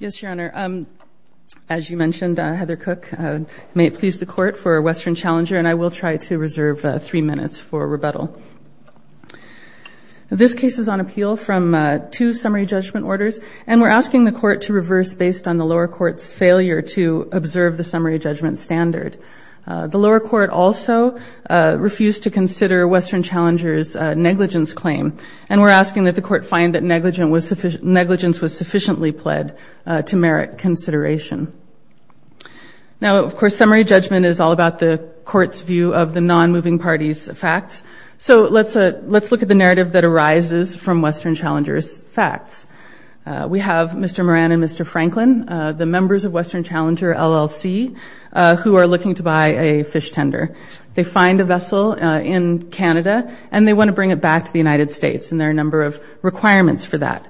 Yes, Your Honor. As you mentioned, Heather Cook, may it please the court for Western Challenger, and I will try to reserve three minutes for rebuttal. This case is on appeal from two summary judgment orders, and we're asking the court to reverse based on the lower court's failure to observe the summary judgment standard. The lower court also refused to consider Western Challenger's negligence claim, and we're asking that the court find that negligence was sufficiently pled to merit consideration. Now, of course, summary judgment is all about the court's view of the non-moving party's facts, so let's look at the narrative that arises from Western Challenger's facts. We have Mr. Moran and Mr. Franklin, the members of Western Challenger, LLC, who are looking to buy a fish tender. They find a vessel in Canada, and they want to bring it back to the United States, and there are a number of requirements for that.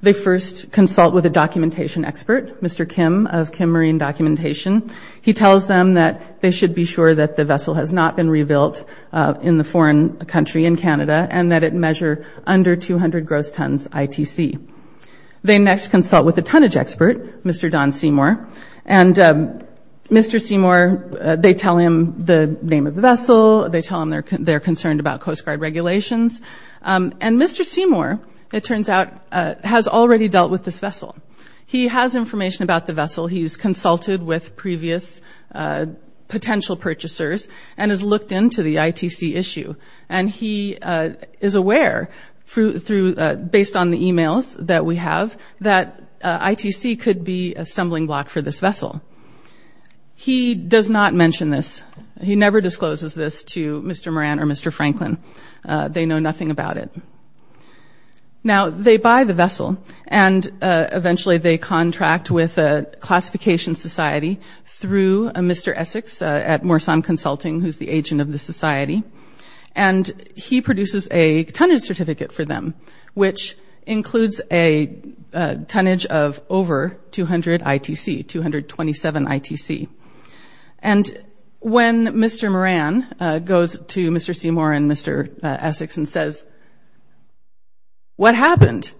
They first consult with a documentation expert, Mr. Kim of Kim Marine Documentation. He tells them that they should be sure that the vessel has not been rebuilt in the foreign country, in Canada, and that it measure under 200 gross tons ITC. They next consult with a tonnage expert, Mr. Don Seymour, and Mr. Seymour, they tell him the name of the vessel. They tell him they're concerned about Coast Guard regulations, and Mr. Seymour, it turns out, has already dealt with this vessel. He has information about the vessel. He's consulted with previous potential purchasers and has looked into the ITC issue, and he is aware, based on the emails that we have, that ITC could be a stumbling block for this vessel. He does not mention this. He never discloses this to Mr. Moran or Mr. Franklin. They know nothing about it. Now, they buy the vessel, and eventually they contract with a classification society through Mr. Essex at Morsan Consulting, who's the agent of the society, and he produces a tonnage certificate for them, which includes a tonnage of over 200 ITC, 227 ITC. And when Mr. Moran goes to Mr. Seymour and Mr. Essex and says, what happened?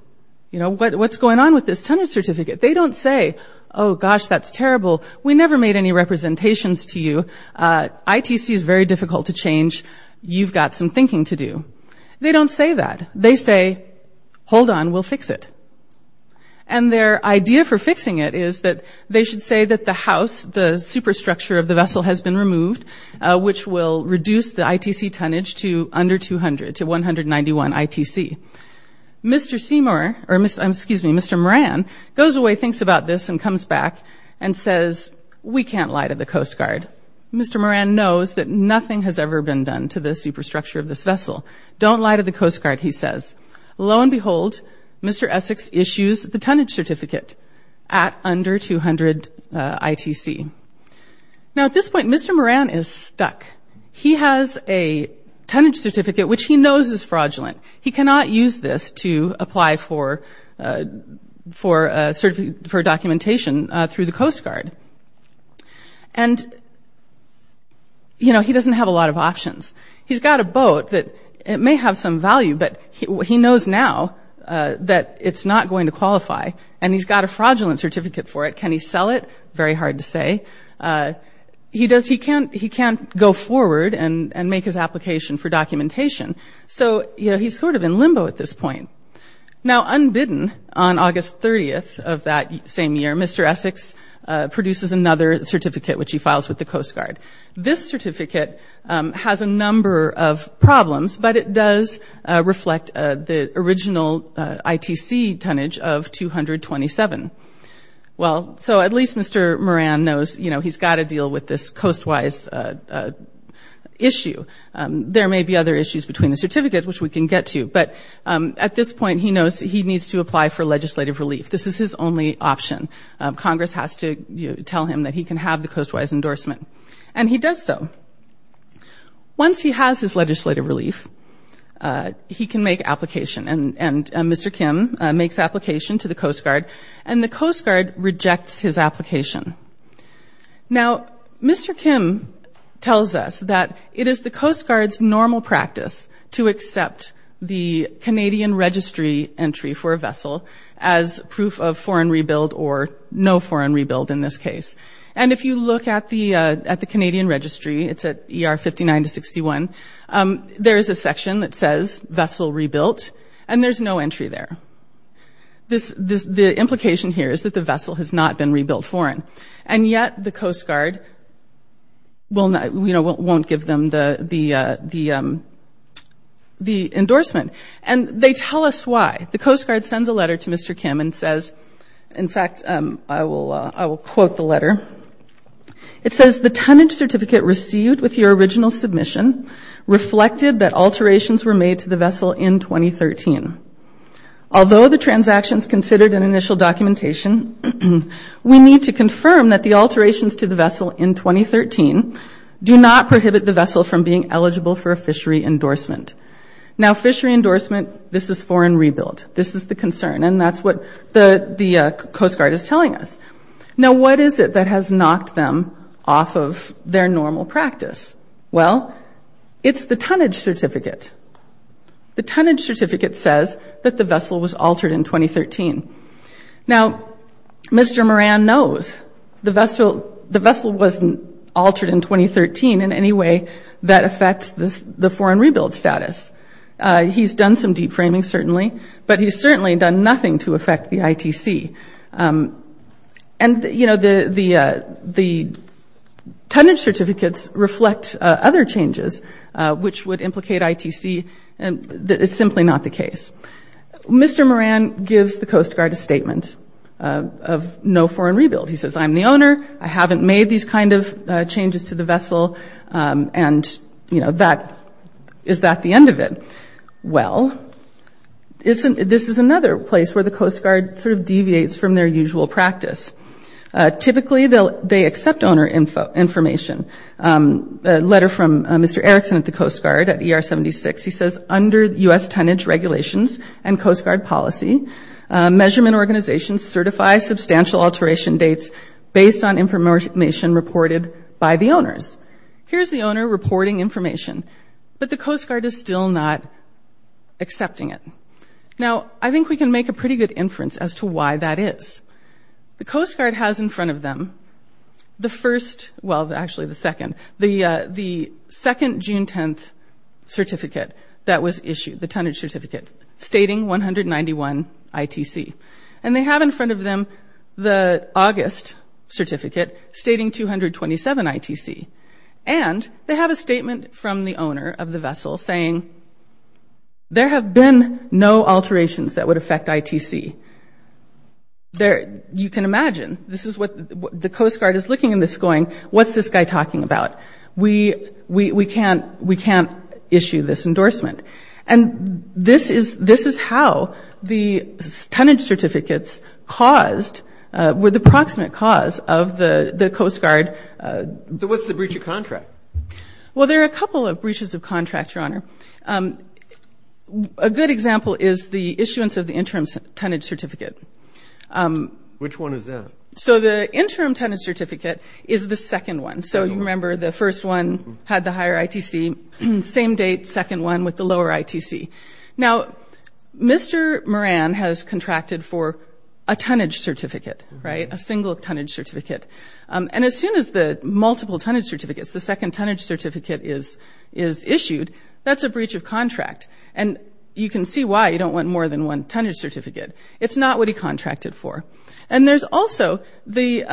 You know, what's going on with this tonnage certificate? They don't say, oh, gosh, that's terrible. We never made any representations to you. ITC is very difficult to change. You've got some thinking to do. They don't say that. They say, hold on, we'll fix it. And their idea for fixing it is that they should say that the house, the superstructure of the vessel has been removed, which will reduce the ITC tonnage to under 200, to 191 ITC. Mr. Moran goes away, thinks about this, and comes back and says, we can't lie to the Coast Guard. Mr. Moran knows that nothing has ever been done to the superstructure of this vessel. Don't lie to the Coast Guard, he says. Lo and behold, Mr. Essex issues the tonnage certificate at under 200 ITC. Now, at this point, Mr. Moran is stuck. He has a tonnage certificate, which he knows is fraudulent. He cannot use this to apply for documentation through the Coast Guard. And, you know, he doesn't have a lot of options. He's got a boat that may have some value, but he knows now that it's not going to qualify, and he's got a fraudulent certificate for it. Can he sell it? Very hard to say. He can't go forward and make his application for documentation. So, you know, he's sort of in limbo at this point. Now, unbidden on August 30th of that same year, Mr. Essex produces another certificate, which he files with the Coast Guard. This certificate has a number of problems, but it does reflect the original ITC tonnage of 227. Well, so at least Mr. Moran knows, you know, he's got to deal with this coast-wise issue. There may be other issues between the certificates, which we can get to. But at this point, he knows he needs to apply for legislative relief. This is his only option. Congress has to tell him that he can have the coast-wise endorsement. And he does so. Once he has his legislative relief, he can make application. And Mr. Kim makes application to the Coast Guard, and the Coast Guard rejects his application. Now, Mr. Kim tells us that it is the Coast Guard's normal practice to accept the Canadian Registry entry for a vessel as proof of foreign rebuild or no foreign rebuild in this case. And if you look at the Canadian Registry, it's at ER 59 to 61, there is a section that says vessel rebuilt, and there's no entry there. The implication here is that the vessel has not been rebuilt foreign. And yet the Coast Guard won't give them the endorsement. And they tell us why. The Coast Guard sends a letter to Mr. Kim and says, in fact, I will quote the letter. It says, the tonnage certificate received with your original submission reflected that alterations were made to the vessel in 2013. Although the transaction is considered an initial documentation, we need to confirm that the alterations to the vessel in 2013 do not prohibit the vessel from being eligible for a fishery endorsement. Now, fishery endorsement, this is foreign rebuild. This is the concern. And that's what the Coast Guard is telling us. Now, what is it that has knocked them off of their normal practice? Well, it's the tonnage certificate. The tonnage certificate says that the vessel was altered in 2013. Now, Mr. Moran knows the vessel wasn't altered in 2013 in any way that affects the foreign rebuild status. He's done some deep framing, certainly, but he's certainly done nothing to affect the ITC. And, you know, the tonnage certificates reflect other changes which would implicate ITC. And it's simply not the case. Mr. Moran gives the Coast Guard a statement of no foreign rebuild. He says, I'm the owner. I haven't made these kind of changes to the vessel. And, you know, is that the end of it? Well, this is another place where the Coast Guard sort of deviates from their usual practice. Typically, they accept owner information. A letter from Mr. Erickson at the Coast Guard at ER-76, he says, under U.S. tonnage regulations and Coast Guard policy, measurement organizations certify substantial alteration dates based on information reported by the owners. Here's the owner reporting information, but the Coast Guard is still not accepting it. Now, I think we can make a pretty good inference as to why that is. The Coast Guard has in front of them the first, well, actually the second, the second June 10th certificate that was issued, the tonnage certificate, stating 191 ITC. And they have in front of them the August certificate stating 227 ITC. And they have a statement from the owner of the vessel saying, there have been no alterations that would affect ITC. You can imagine, this is what the Coast Guard is looking at this going, what's this guy talking about? We can't issue this endorsement. And this is how the tonnage certificates caused, were the proximate cause of the Coast Guard. So what's the breach of contract? Well, there are a couple of breaches of contract, Your Honor. A good example is the issuance of the interim tonnage certificate. Which one is that? So the interim tonnage certificate is the second one. So you remember the first one had the higher ITC, same date, second one with the lower ITC. Now, Mr. Moran has contracted for a tonnage certificate, right, a single tonnage certificate. And as soon as the multiple tonnage certificates, the second tonnage certificate is issued, that's a breach of contract. And you can see why you don't want more than one tonnage certificate. It's not what he contracted for. And there's also the,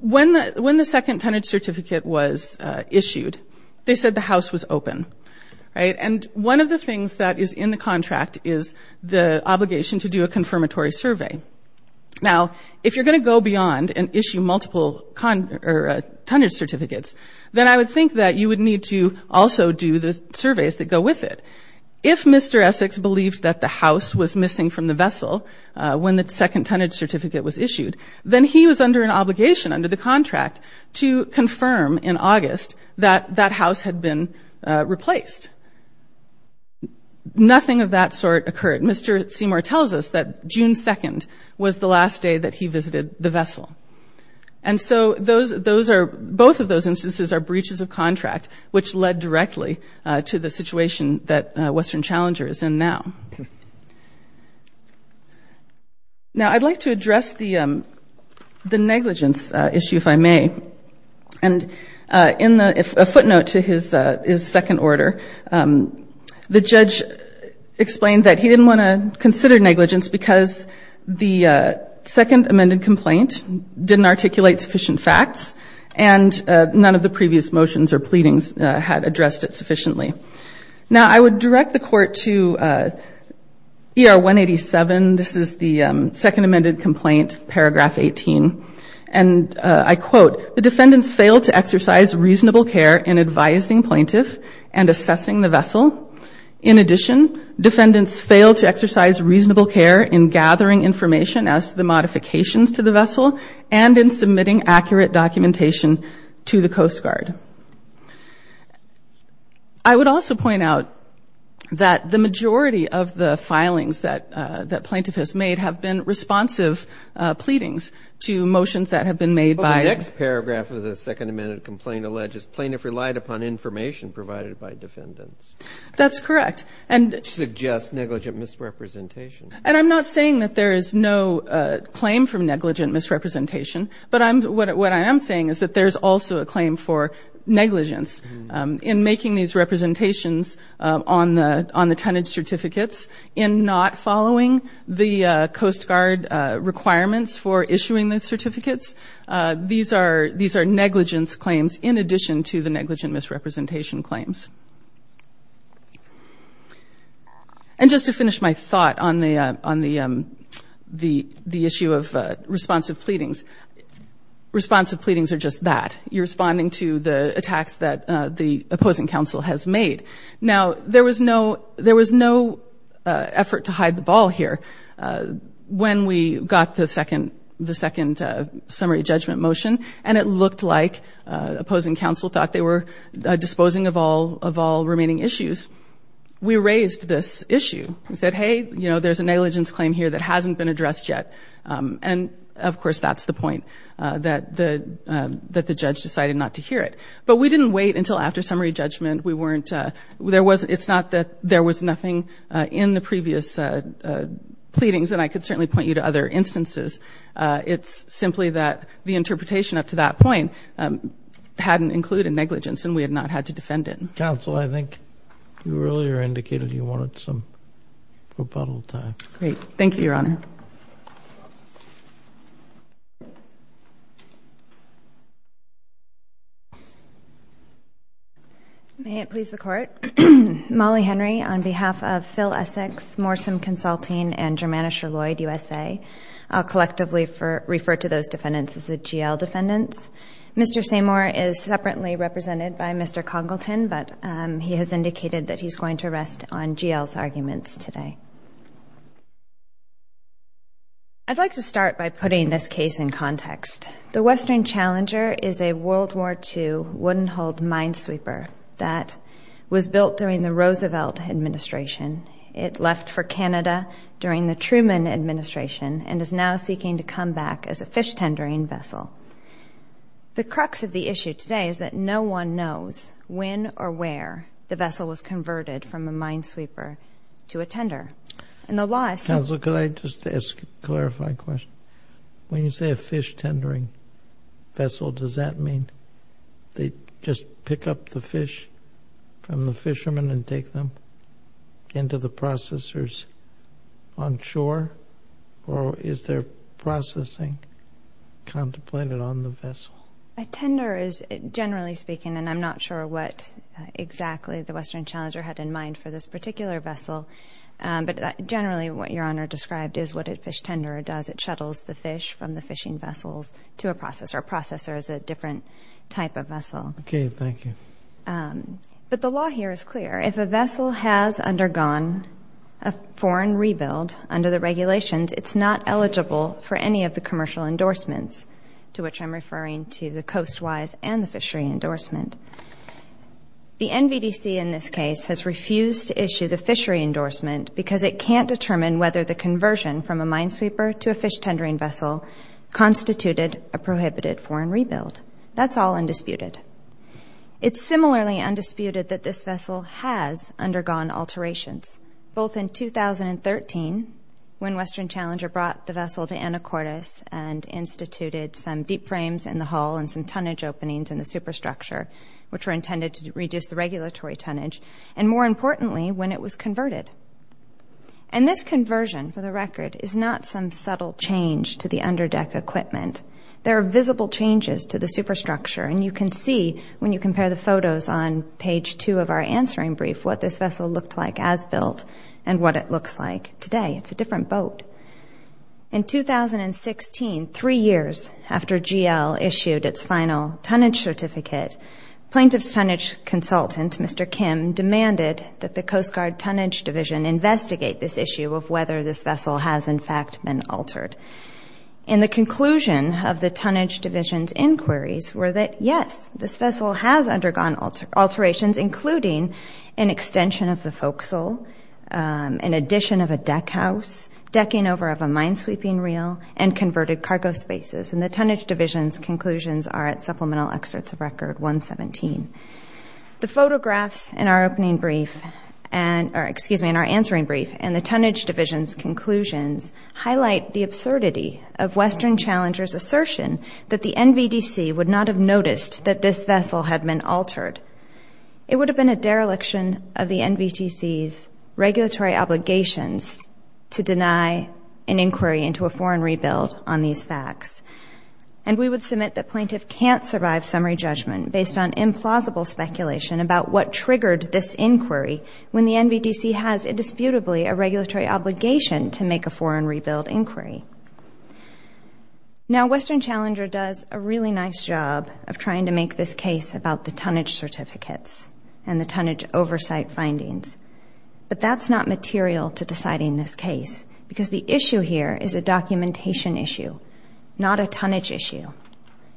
when the second tonnage certificate was issued, they said the house was open. And one of the things that is in the contract is the obligation to do a confirmatory survey. Now, if you're going to go beyond and issue multiple tonnage certificates, then I would think that you would need to also do the surveys that go with it. If Mr. Essex believed that the house was missing from the vessel when the second tonnage certificate was issued, then he was under an obligation under the contract to confirm in August that that house had been replaced. Nothing of that sort occurred. Mr. Seymour tells us that June 2nd was the last day that he visited the vessel. And so those are, both of those instances are breaches of contract, which led directly to the situation that Western Challenger is in now. Now, I'd like to address the negligence issue, if I may. And a footnote to his second order, the judge explained that he didn't want to consider negligence because the second amended complaint didn't articulate sufficient facts and none of the previous motions or pleadings had addressed it sufficiently. Now, I would direct the court to ER 187. This is the second amended complaint, paragraph 18. And I quote, the defendants failed to exercise reasonable care in advising plaintiff and assessing the vessel. In addition, defendants failed to exercise reasonable care in gathering information as to the modifications to the vessel and in submitting accurate documentation to the Coast Guard. I would also point out that the majority of the filings that plaintiff has made have been responsive pleadings to motions that have been made by the next paragraph of the second amended complaint upon information provided by defendants. That's correct. Suggests negligent misrepresentation. And I'm not saying that there is no claim from negligent misrepresentation, but what I am saying is that there is also a claim for negligence in making these representations on the tenant certificates in not following the Coast Guard requirements for issuing the certificates. These are negligence claims in addition to the negligent misrepresentation claims. And just to finish my thought on the issue of responsive pleadings, responsive pleadings are just that. You're responding to the attacks that the opposing counsel has made. Now, there was no effort to hide the ball here when we got the second summary judgment motion, and it looked like opposing counsel thought they were disposing of all remaining issues. We raised this issue. We said, hey, you know, there's a negligence claim here that hasn't been addressed yet. And, of course, that's the point, that the judge decided not to hear it. But we didn't wait until after summary judgment. We weren't ñ it's not that there was nothing in the previous pleadings, and I could certainly point you to other instances. It's simply that the interpretation up to that point hadn't included negligence and we had not had to defend it. Counsel, I think you earlier indicated you wanted some rebuttal time. Great. Thank you, Your Honor. Ms. Samore. May it please the Court. Molly Henry on behalf of Phil Essex, Morsum Consulting, and Germanusher Lloyd USA. I'll collectively refer to those defendants as the GL defendants. Mr. Samore is separately represented by Mr. Congleton, but he has indicated that he's going to rest on GL's arguments today. I'd like to start by putting this case in context. The Western Challenger is a World War II wooden-hulled minesweeper that was built during the Roosevelt administration. It left for Canada during the Truman administration and is now seeking to come back as a fish-tendering vessel. The crux of the issue today is that no one knows when or where the vessel was converted from a minesweeper to a tender. Counsel, could I just ask a clarifying question? When you say a fish-tendering vessel, does that mean they just pick up the fish from the fishermen and take them? Into the processors on shore, or is there processing contemplated on the vessel? A tender is, generally speaking, and I'm not sure what exactly the Western Challenger had in mind for this particular vessel, but generally what Your Honor described is what a fish tenderer does. It shuttles the fish from the fishing vessels to a processor. A processor is a different type of vessel. Okay, thank you. But the law here is clear. If a vessel has undergone a foreign rebuild under the regulations, it's not eligible for any of the commercial endorsements, to which I'm referring to the coast-wise and the fishery endorsement. The NVDC in this case has refused to issue the fishery endorsement because it can't determine whether the conversion from a minesweeper to a fish-tendering vessel constituted a prohibited foreign rebuild. That's all undisputed. It's similarly undisputed that this vessel has undergone alterations, both in 2013 when Western Challenger brought the vessel to Anacortes and instituted some deep frames in the hull and some tonnage openings in the superstructure, which were intended to reduce the regulatory tonnage, and more importantly, when it was converted. And this conversion, for the record, is not some subtle change to the underdeck equipment. There are visible changes to the superstructure, and you can see when you compare the photos on page two of our answering brief what this vessel looked like as built and what it looks like today. It's a different boat. In 2016, three years after GL issued its final tonnage certificate, plaintiff's tonnage consultant, Mr. Kim, demanded that the Coast Guard Tonnage Division investigate this issue of whether this vessel has, in fact, been altered. And the conclusion of the Tonnage Division's inquiries were that, yes, this vessel has undergone alterations, including an extension of the focsal, an addition of a deckhouse, decking over of a minesweeping reel, and converted cargo spaces. And the Tonnage Division's conclusions are at Supplemental Excerpts of Record 117. The photographs in our answering brief and the Tonnage Division's conclusions highlight the absurdity of Western Challenger's assertion that the NVDC would not have noticed that this vessel had been altered. It would have been a dereliction of the NVDC's regulatory obligations to deny an inquiry into a foreign rebuild on these facts. And we would submit that plaintiff can't survive summary judgment based on implausible speculation about what triggered this inquiry when the NVDC has indisputably a regulatory obligation to make a foreign rebuild inquiry. Now, Western Challenger does a really nice job of trying to make this case about the tonnage certificates and the tonnage oversight findings. But that's not material to deciding this case because the issue here is a documentation issue, not a tonnage issue.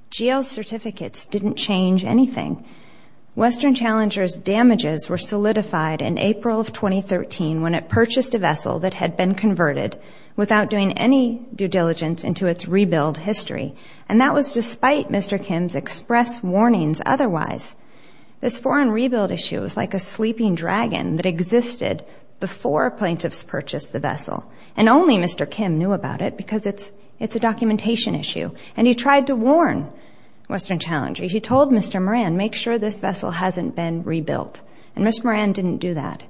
GL's certificates didn't change anything. Western Challenger's damages were solidified in April of 2013 when it purchased a vessel that had been converted without doing any due diligence into its rebuild history. And that was despite Mr. Kim's express warnings otherwise. This foreign rebuild issue was like a sleeping dragon that existed before plaintiffs purchased the vessel. And only Mr. Kim knew about it because it's a documentation issue. And he tried to warn Western Challenger. He told Mr. Moran, make sure this vessel hasn't been rebuilt. And Mr. Moran didn't do that.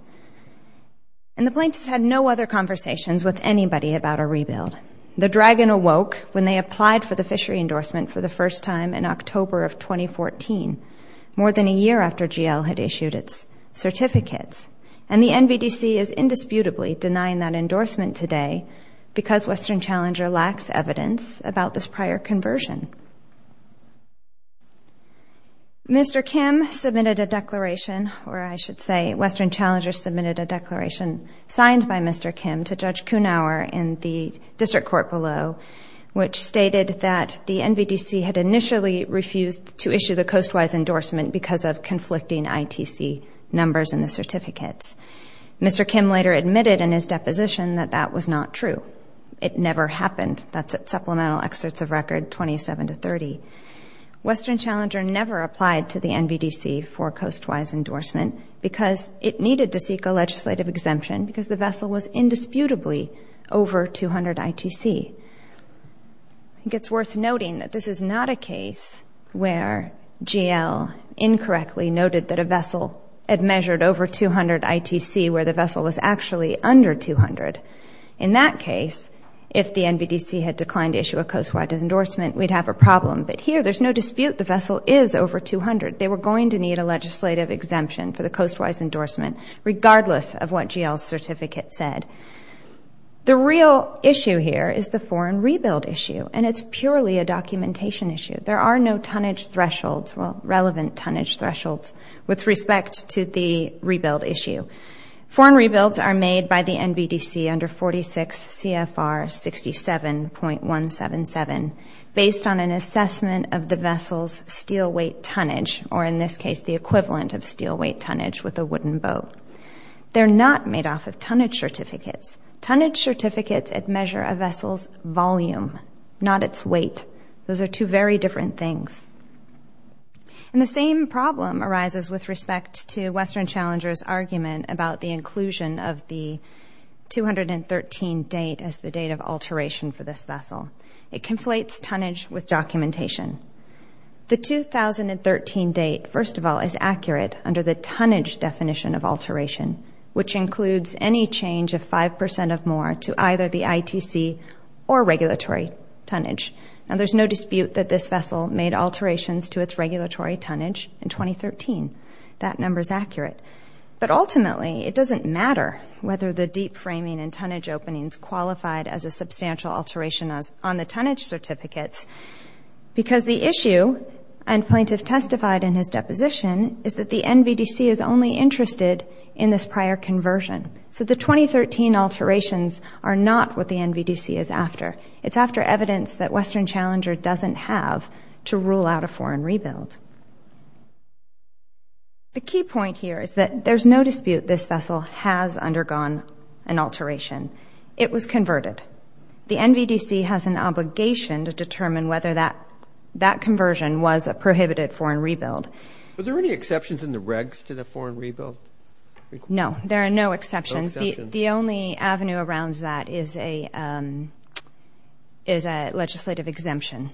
And the plaintiffs had no other conversations with anybody about a rebuild. The dragon awoke when they applied for the fishery endorsement for the first time in October of 2014, more than a year after GL had issued its certificates. And the NVDC is indisputably denying that endorsement today because Western Challenger lacks evidence about this prior conversion. Mr. Kim submitted a declaration, or I should say, Western Challenger submitted a declaration signed by Mr. Kim to Judge Kunauer in the district court below, which stated that the NVDC had initially refused to issue the coastwise endorsement because of conflicting ITC numbers in the certificates. Mr. Kim later admitted in his deposition that that was not true. It never happened. That's at supplemental excerpts of record 27 to 30. Western Challenger never applied to the NVDC for coastwise endorsement because it needed to seek a legislative exemption because the vessel was indisputably over 200 ITC. I think it's worth noting that this is not a case where GL incorrectly noted that a vessel had measured over 200 ITC where the vessel was actually under 200. In that case, if the NVDC had declined to issue a coastwise endorsement, we'd have a problem. But here there's no dispute. The vessel is over 200. They were going to need a legislative exemption for the coastwise endorsement, regardless of what GL's certificate said. The real issue here is the foreign rebuild issue, and it's purely a documentation issue. There are no tonnage thresholds, well, relevant tonnage thresholds with respect to the rebuild issue. Foreign rebuilds are made by the NVDC under 46 CFR 67.177 based on an assessment of the vessel's steel weight tonnage, or in this case the equivalent of steel weight tonnage with a wooden boat. They're not made off of tonnage certificates. Tonnage certificates measure a vessel's volume, not its weight. Those are two very different things. And the same problem arises with respect to Western Challenger's argument about the inclusion of the 213 date as the date of alteration for this vessel. It conflates tonnage with documentation. The 2013 date, first of all, is accurate under the tonnage definition of alteration, which includes any change of 5% or more to either the ITC or regulatory tonnage. Now, there's no dispute that this vessel made alterations to its regulatory tonnage in 2013. That number is accurate. But ultimately, it doesn't matter whether the deep framing and tonnage openings qualified as a substantial alteration on the tonnage certificates because the issue, and plaintiff testified in his deposition, is that the NVDC is only interested in this prior conversion. So the 2013 alterations are not what the NVDC is after. It's after evidence that Western Challenger doesn't have to rule out a foreign rebuild. The key point here is that there's no dispute this vessel has undergone an alteration. It was converted. The NVDC has an obligation to determine whether that conversion was a prohibited foreign rebuild. Are there any exceptions in the regs to the foreign rebuild? No, there are no exceptions. The only avenue around that is a legislative exemption.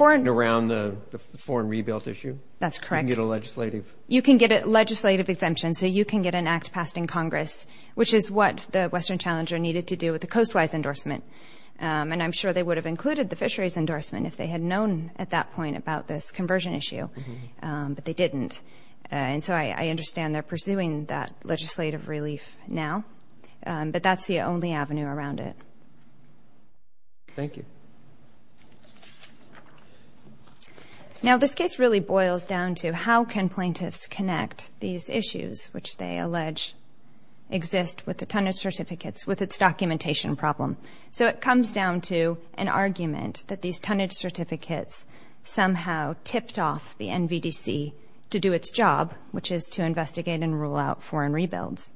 Around the foreign rebuild issue? That's correct. You can get a legislative? You can get a legislative exemption. So you can get an act passed in Congress, which is what the Western Challenger needed to do with the Coast Wise endorsement. And I'm sure they would have included the Fisheries endorsement if they had known at that point about this conversion issue. But they didn't. And so I understand they're pursuing that legislative relief now. But that's the only avenue around it. Thank you. Now, this case really boils down to how can plaintiffs connect these issues, which they allege exist with the tonnage certificates, with its documentation problem. So it comes down to an argument that these tonnage certificates somehow tipped off the NVDC to do its job, which is to investigate and rule out foreign rebuilds.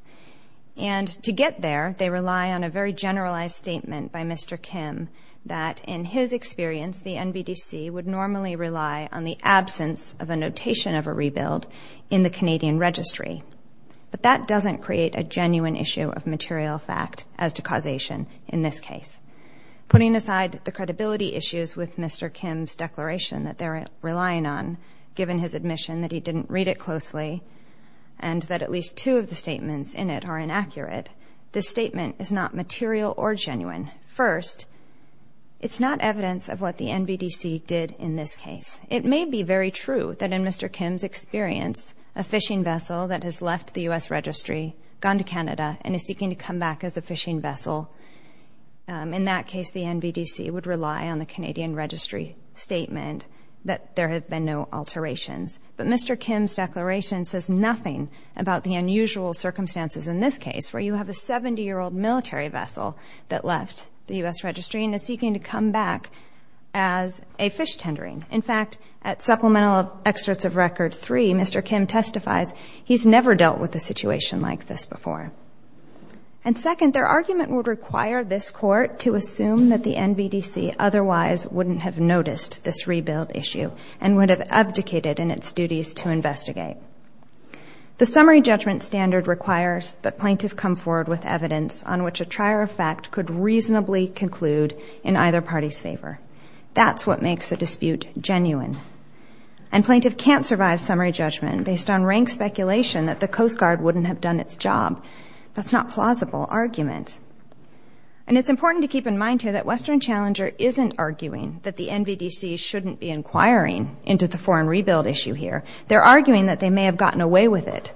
And to get there, they rely on a very generalized statement by Mr. Kim that, in his experience, the NVDC would normally rely on the absence of a notation of a rebuild in the Canadian Registry. But that doesn't create a genuine issue of material fact as to causation in this case. Putting aside the credibility issues with Mr. Kim's declaration that they're relying on, given his admission that he didn't read it closely and that at least two of the statements in it are inaccurate, this statement is not material or genuine. First, it's not evidence of what the NVDC did in this case. It may be very true that in Mr. Kim's experience a fishing vessel that has left the U.S. Registry, gone to Canada, and is seeking to come back as a fishing vessel, in that case the NVDC would rely on the Canadian Registry statement that there have been no alterations. But Mr. Kim's declaration says nothing about the unusual circumstances in this case, where you have a 70-year-old military vessel that left the U.S. Registry and is seeking to come back as a fish tendering. In fact, at supplemental excerpts of Record 3, Mr. Kim testifies, he's never dealt with a situation like this before. And second, their argument would require this Court to assume that the NVDC otherwise wouldn't have noticed this rebuild issue and would have abdicated in its duties to investigate. The summary judgment standard requires the plaintiff come forward with evidence on which a trier of fact could reasonably conclude in either party's favor. That's what makes the dispute genuine. And plaintiff can't survive summary judgment based on rank speculation that the Coast Guard wouldn't have done its job. That's not plausible argument. And it's important to keep in mind here that Western Challenger isn't arguing that the NVDC shouldn't be inquiring into the foreign rebuild issue here. They're arguing that they may have gotten away with it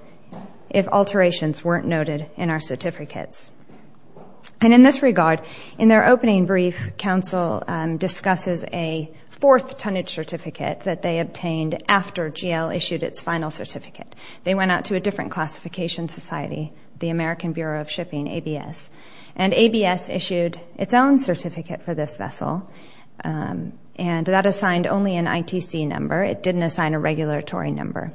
if alterations weren't noted in our certificates. And in this regard, in their opening brief, counsel discusses a fourth tonnage certificate that they obtained after GL issued its final certificate. They went out to a different classification society, the American Bureau of Shipping, ABS. And ABS issued its own certificate for this vessel. And that assigned only an ITC number. It didn't assign a regulatory number.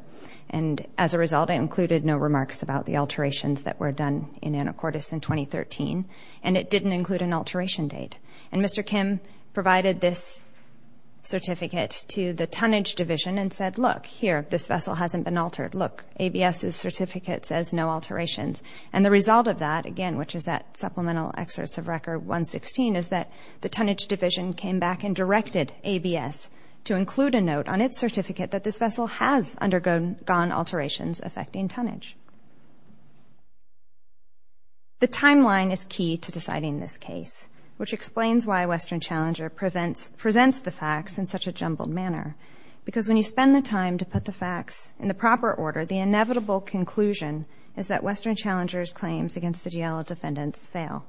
And as a result, it included no remarks about the alterations that were done in Anacortes in 2013. And it didn't include an alteration date. And Mr. Kim provided this certificate to the tonnage division and said, look, here, this vessel hasn't been altered. Look, ABS's certificate says no alterations. And the result of that, again, which is at supplemental excerpts of Record 116, is that the tonnage division came back and directed ABS to include a note on its certificate that this vessel has undergone alterations affecting tonnage. The timeline is key to deciding this case, which explains why Western Challenger presents the facts in such a jumbled manner. Because when you spend the time to put the facts in the proper order, the inevitable conclusion is that Western Challenger's claims against the GL defendants fail.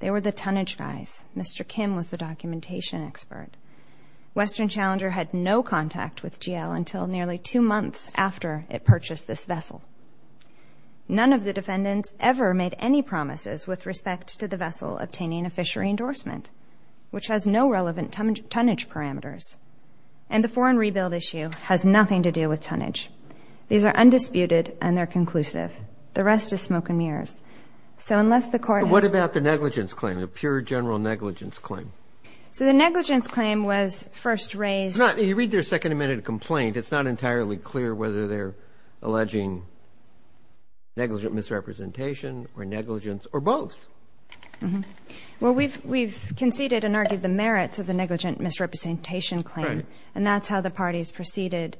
They were the tonnage guys. Mr. Kim was the documentation expert. Western Challenger had no contact with GL until nearly two months after it purchased this vessel. None of the defendants ever made any promises with respect to the vessel obtaining a fishery endorsement, which has no relevant tonnage parameters. And the foreign rebuild issue has nothing to do with tonnage. These are undisputed, and they're conclusive. The rest is smoke and mirrors. So unless the court has to... But what about the negligence claim, the pure general negligence claim? So the negligence claim was first raised... You read their second amended complaint. It's not entirely clear whether they're alleging negligent misrepresentation or negligence or both. Well, we've conceded and argued the merits of the negligent misrepresentation claim, and that's how the parties proceeded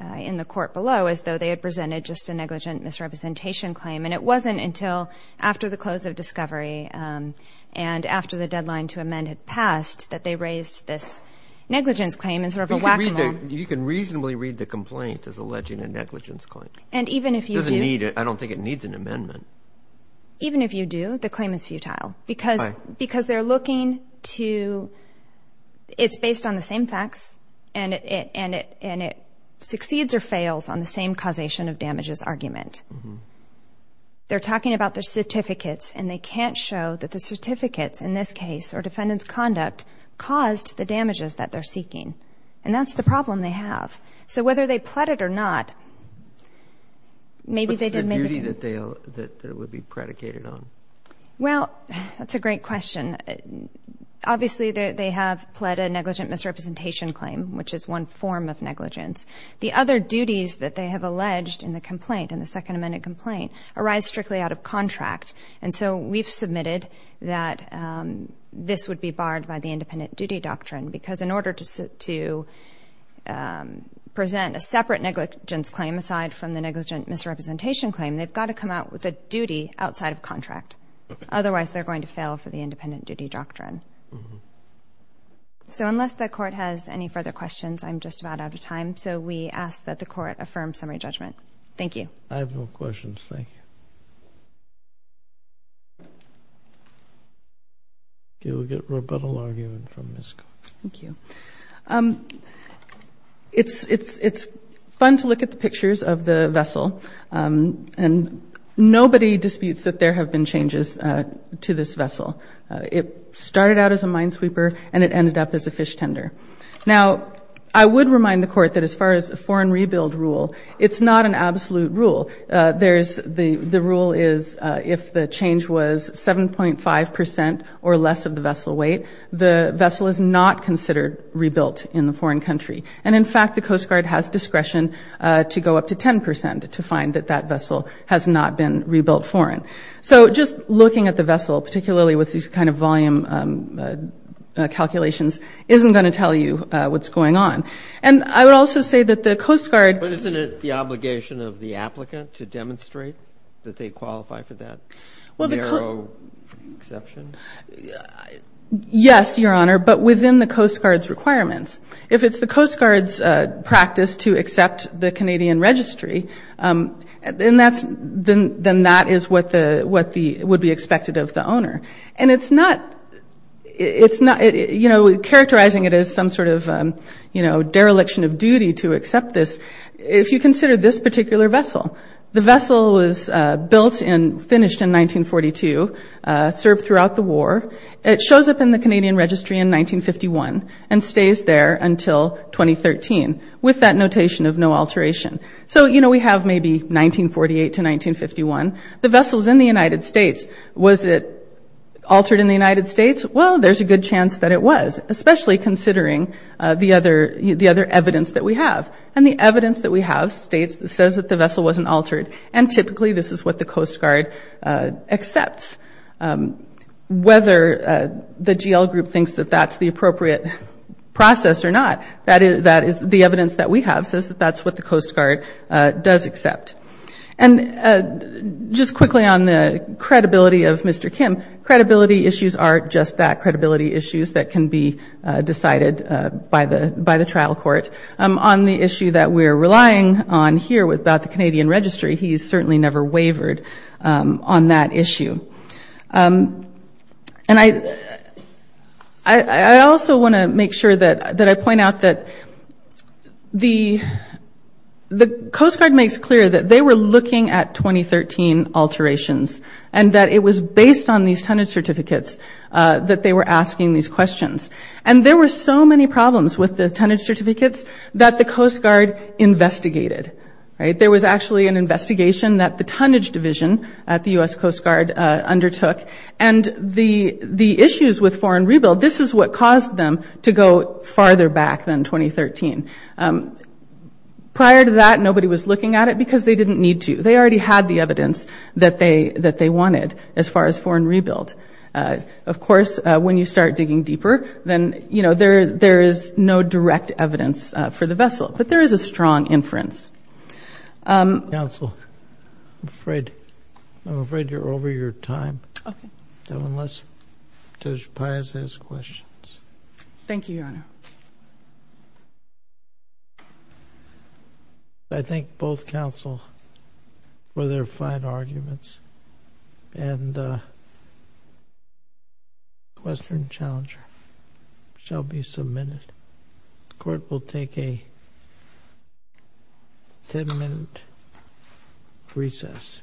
in the court below, as though they had presented just a negligent misrepresentation claim. And it wasn't until after the close of discovery and after the deadline to amend had passed that they raised this negligence claim as sort of a whack-a-mole. You can reasonably read the complaint as alleging a negligence claim. It doesn't need it. I don't think it needs an amendment. Even if you do, the claim is futile because they're looking to... And it succeeds or fails on the same causation of damages argument. They're talking about the certificates, and they can't show that the certificates, in this case, or defendant's conduct caused the damages that they're seeking. And that's the problem they have. So whether they pled it or not, maybe they didn't... What's the duty that it would be predicated on? Well, that's a great question. Obviously, they have pled a negligent misrepresentation claim, which is one form of negligence. The other duties that they have alleged in the complaint, in the Second Amendment complaint, arise strictly out of contract. And so we've submitted that this would be barred by the independent duty doctrine because in order to present a separate negligence claim, aside from the negligent misrepresentation claim, they've got to come out with a duty outside of contract. Otherwise, they're going to fail for the independent duty doctrine. So unless the Court has any further questions, I'm just about out of time. So we ask that the Court affirm summary judgment. Thank you. I have no questions. Thank you. Okay, we'll get rebuttal argument from Ms. Cox. Thank you. It's fun to look at the pictures of the vessel. And nobody disputes that there have been changes to this vessel. It started out as a minesweeper and it ended up as a fish tender. Now, I would remind the Court that as far as a foreign rebuild rule, it's not an absolute rule. The rule is if the change was 7.5% or less of the vessel weight, the vessel is not considered rebuilt in the foreign country. And, in fact, the Coast Guard has discretion to go up to 10% to find that that vessel has not been rebuilt foreign. So just looking at the vessel, particularly with these kind of volume calculations, isn't going to tell you what's going on. And I would also say that the Coast Guard – But isn't it the obligation of the applicant to demonstrate that they qualify for that narrow exception? Yes, Your Honor, but within the Coast Guard's requirements. If it's the Coast Guard's practice to accept the Canadian Registry, then that is what would be expected of the owner. And it's not – you know, characterizing it as some sort of, you know, dereliction of duty to accept this. If you consider this particular vessel, the vessel was built and finished in 1942, served throughout the war. It shows up in the Canadian Registry in 1951 and stays there until 2013 with that notation of no alteration. So, you know, we have maybe 1948 to 1951. The vessel's in the United States. Was it altered in the United States? Well, there's a good chance that it was, especially considering the other evidence that we have. And the evidence that we have states – says that the vessel wasn't altered. And typically this is what the Coast Guard accepts. Whether the GL group thinks that that's the appropriate process or not, that is – the evidence that we have says that that's what the Coast Guard does accept. And just quickly on the credibility of Mr. Kim, credibility issues aren't just that, credibility issues that can be decided by the trial court. On the issue that we're relying on here about the Canadian Registry, he's certainly never wavered on that issue. And I – I also want to make sure that – that I point out that the – the Coast Guard makes clear that they were looking at 2013 alterations and that it was based on these tonnage certificates that they were asking these questions. And there were so many problems with the tonnage certificates that the Coast Guard investigated, right? There was actually an investigation that the tonnage division at the U.S. Coast Guard undertook. And the – the issues with foreign rebuild, this is what caused them to go farther back than 2013. Prior to that, nobody was looking at it because they didn't need to. They already had the evidence that they – that they wanted as far as foreign rebuild. Of course, when you start digging deeper, then, you know, there is no direct evidence for the vessel. But there is a strong inference. Counsel, I'm afraid – I'm afraid you're over your time. Okay. Unless Judge Pius has questions. Thank you, Your Honor. I thank both counsel for their fine arguments. And the question and challenge shall be submitted. Court will take a ten-minute recess.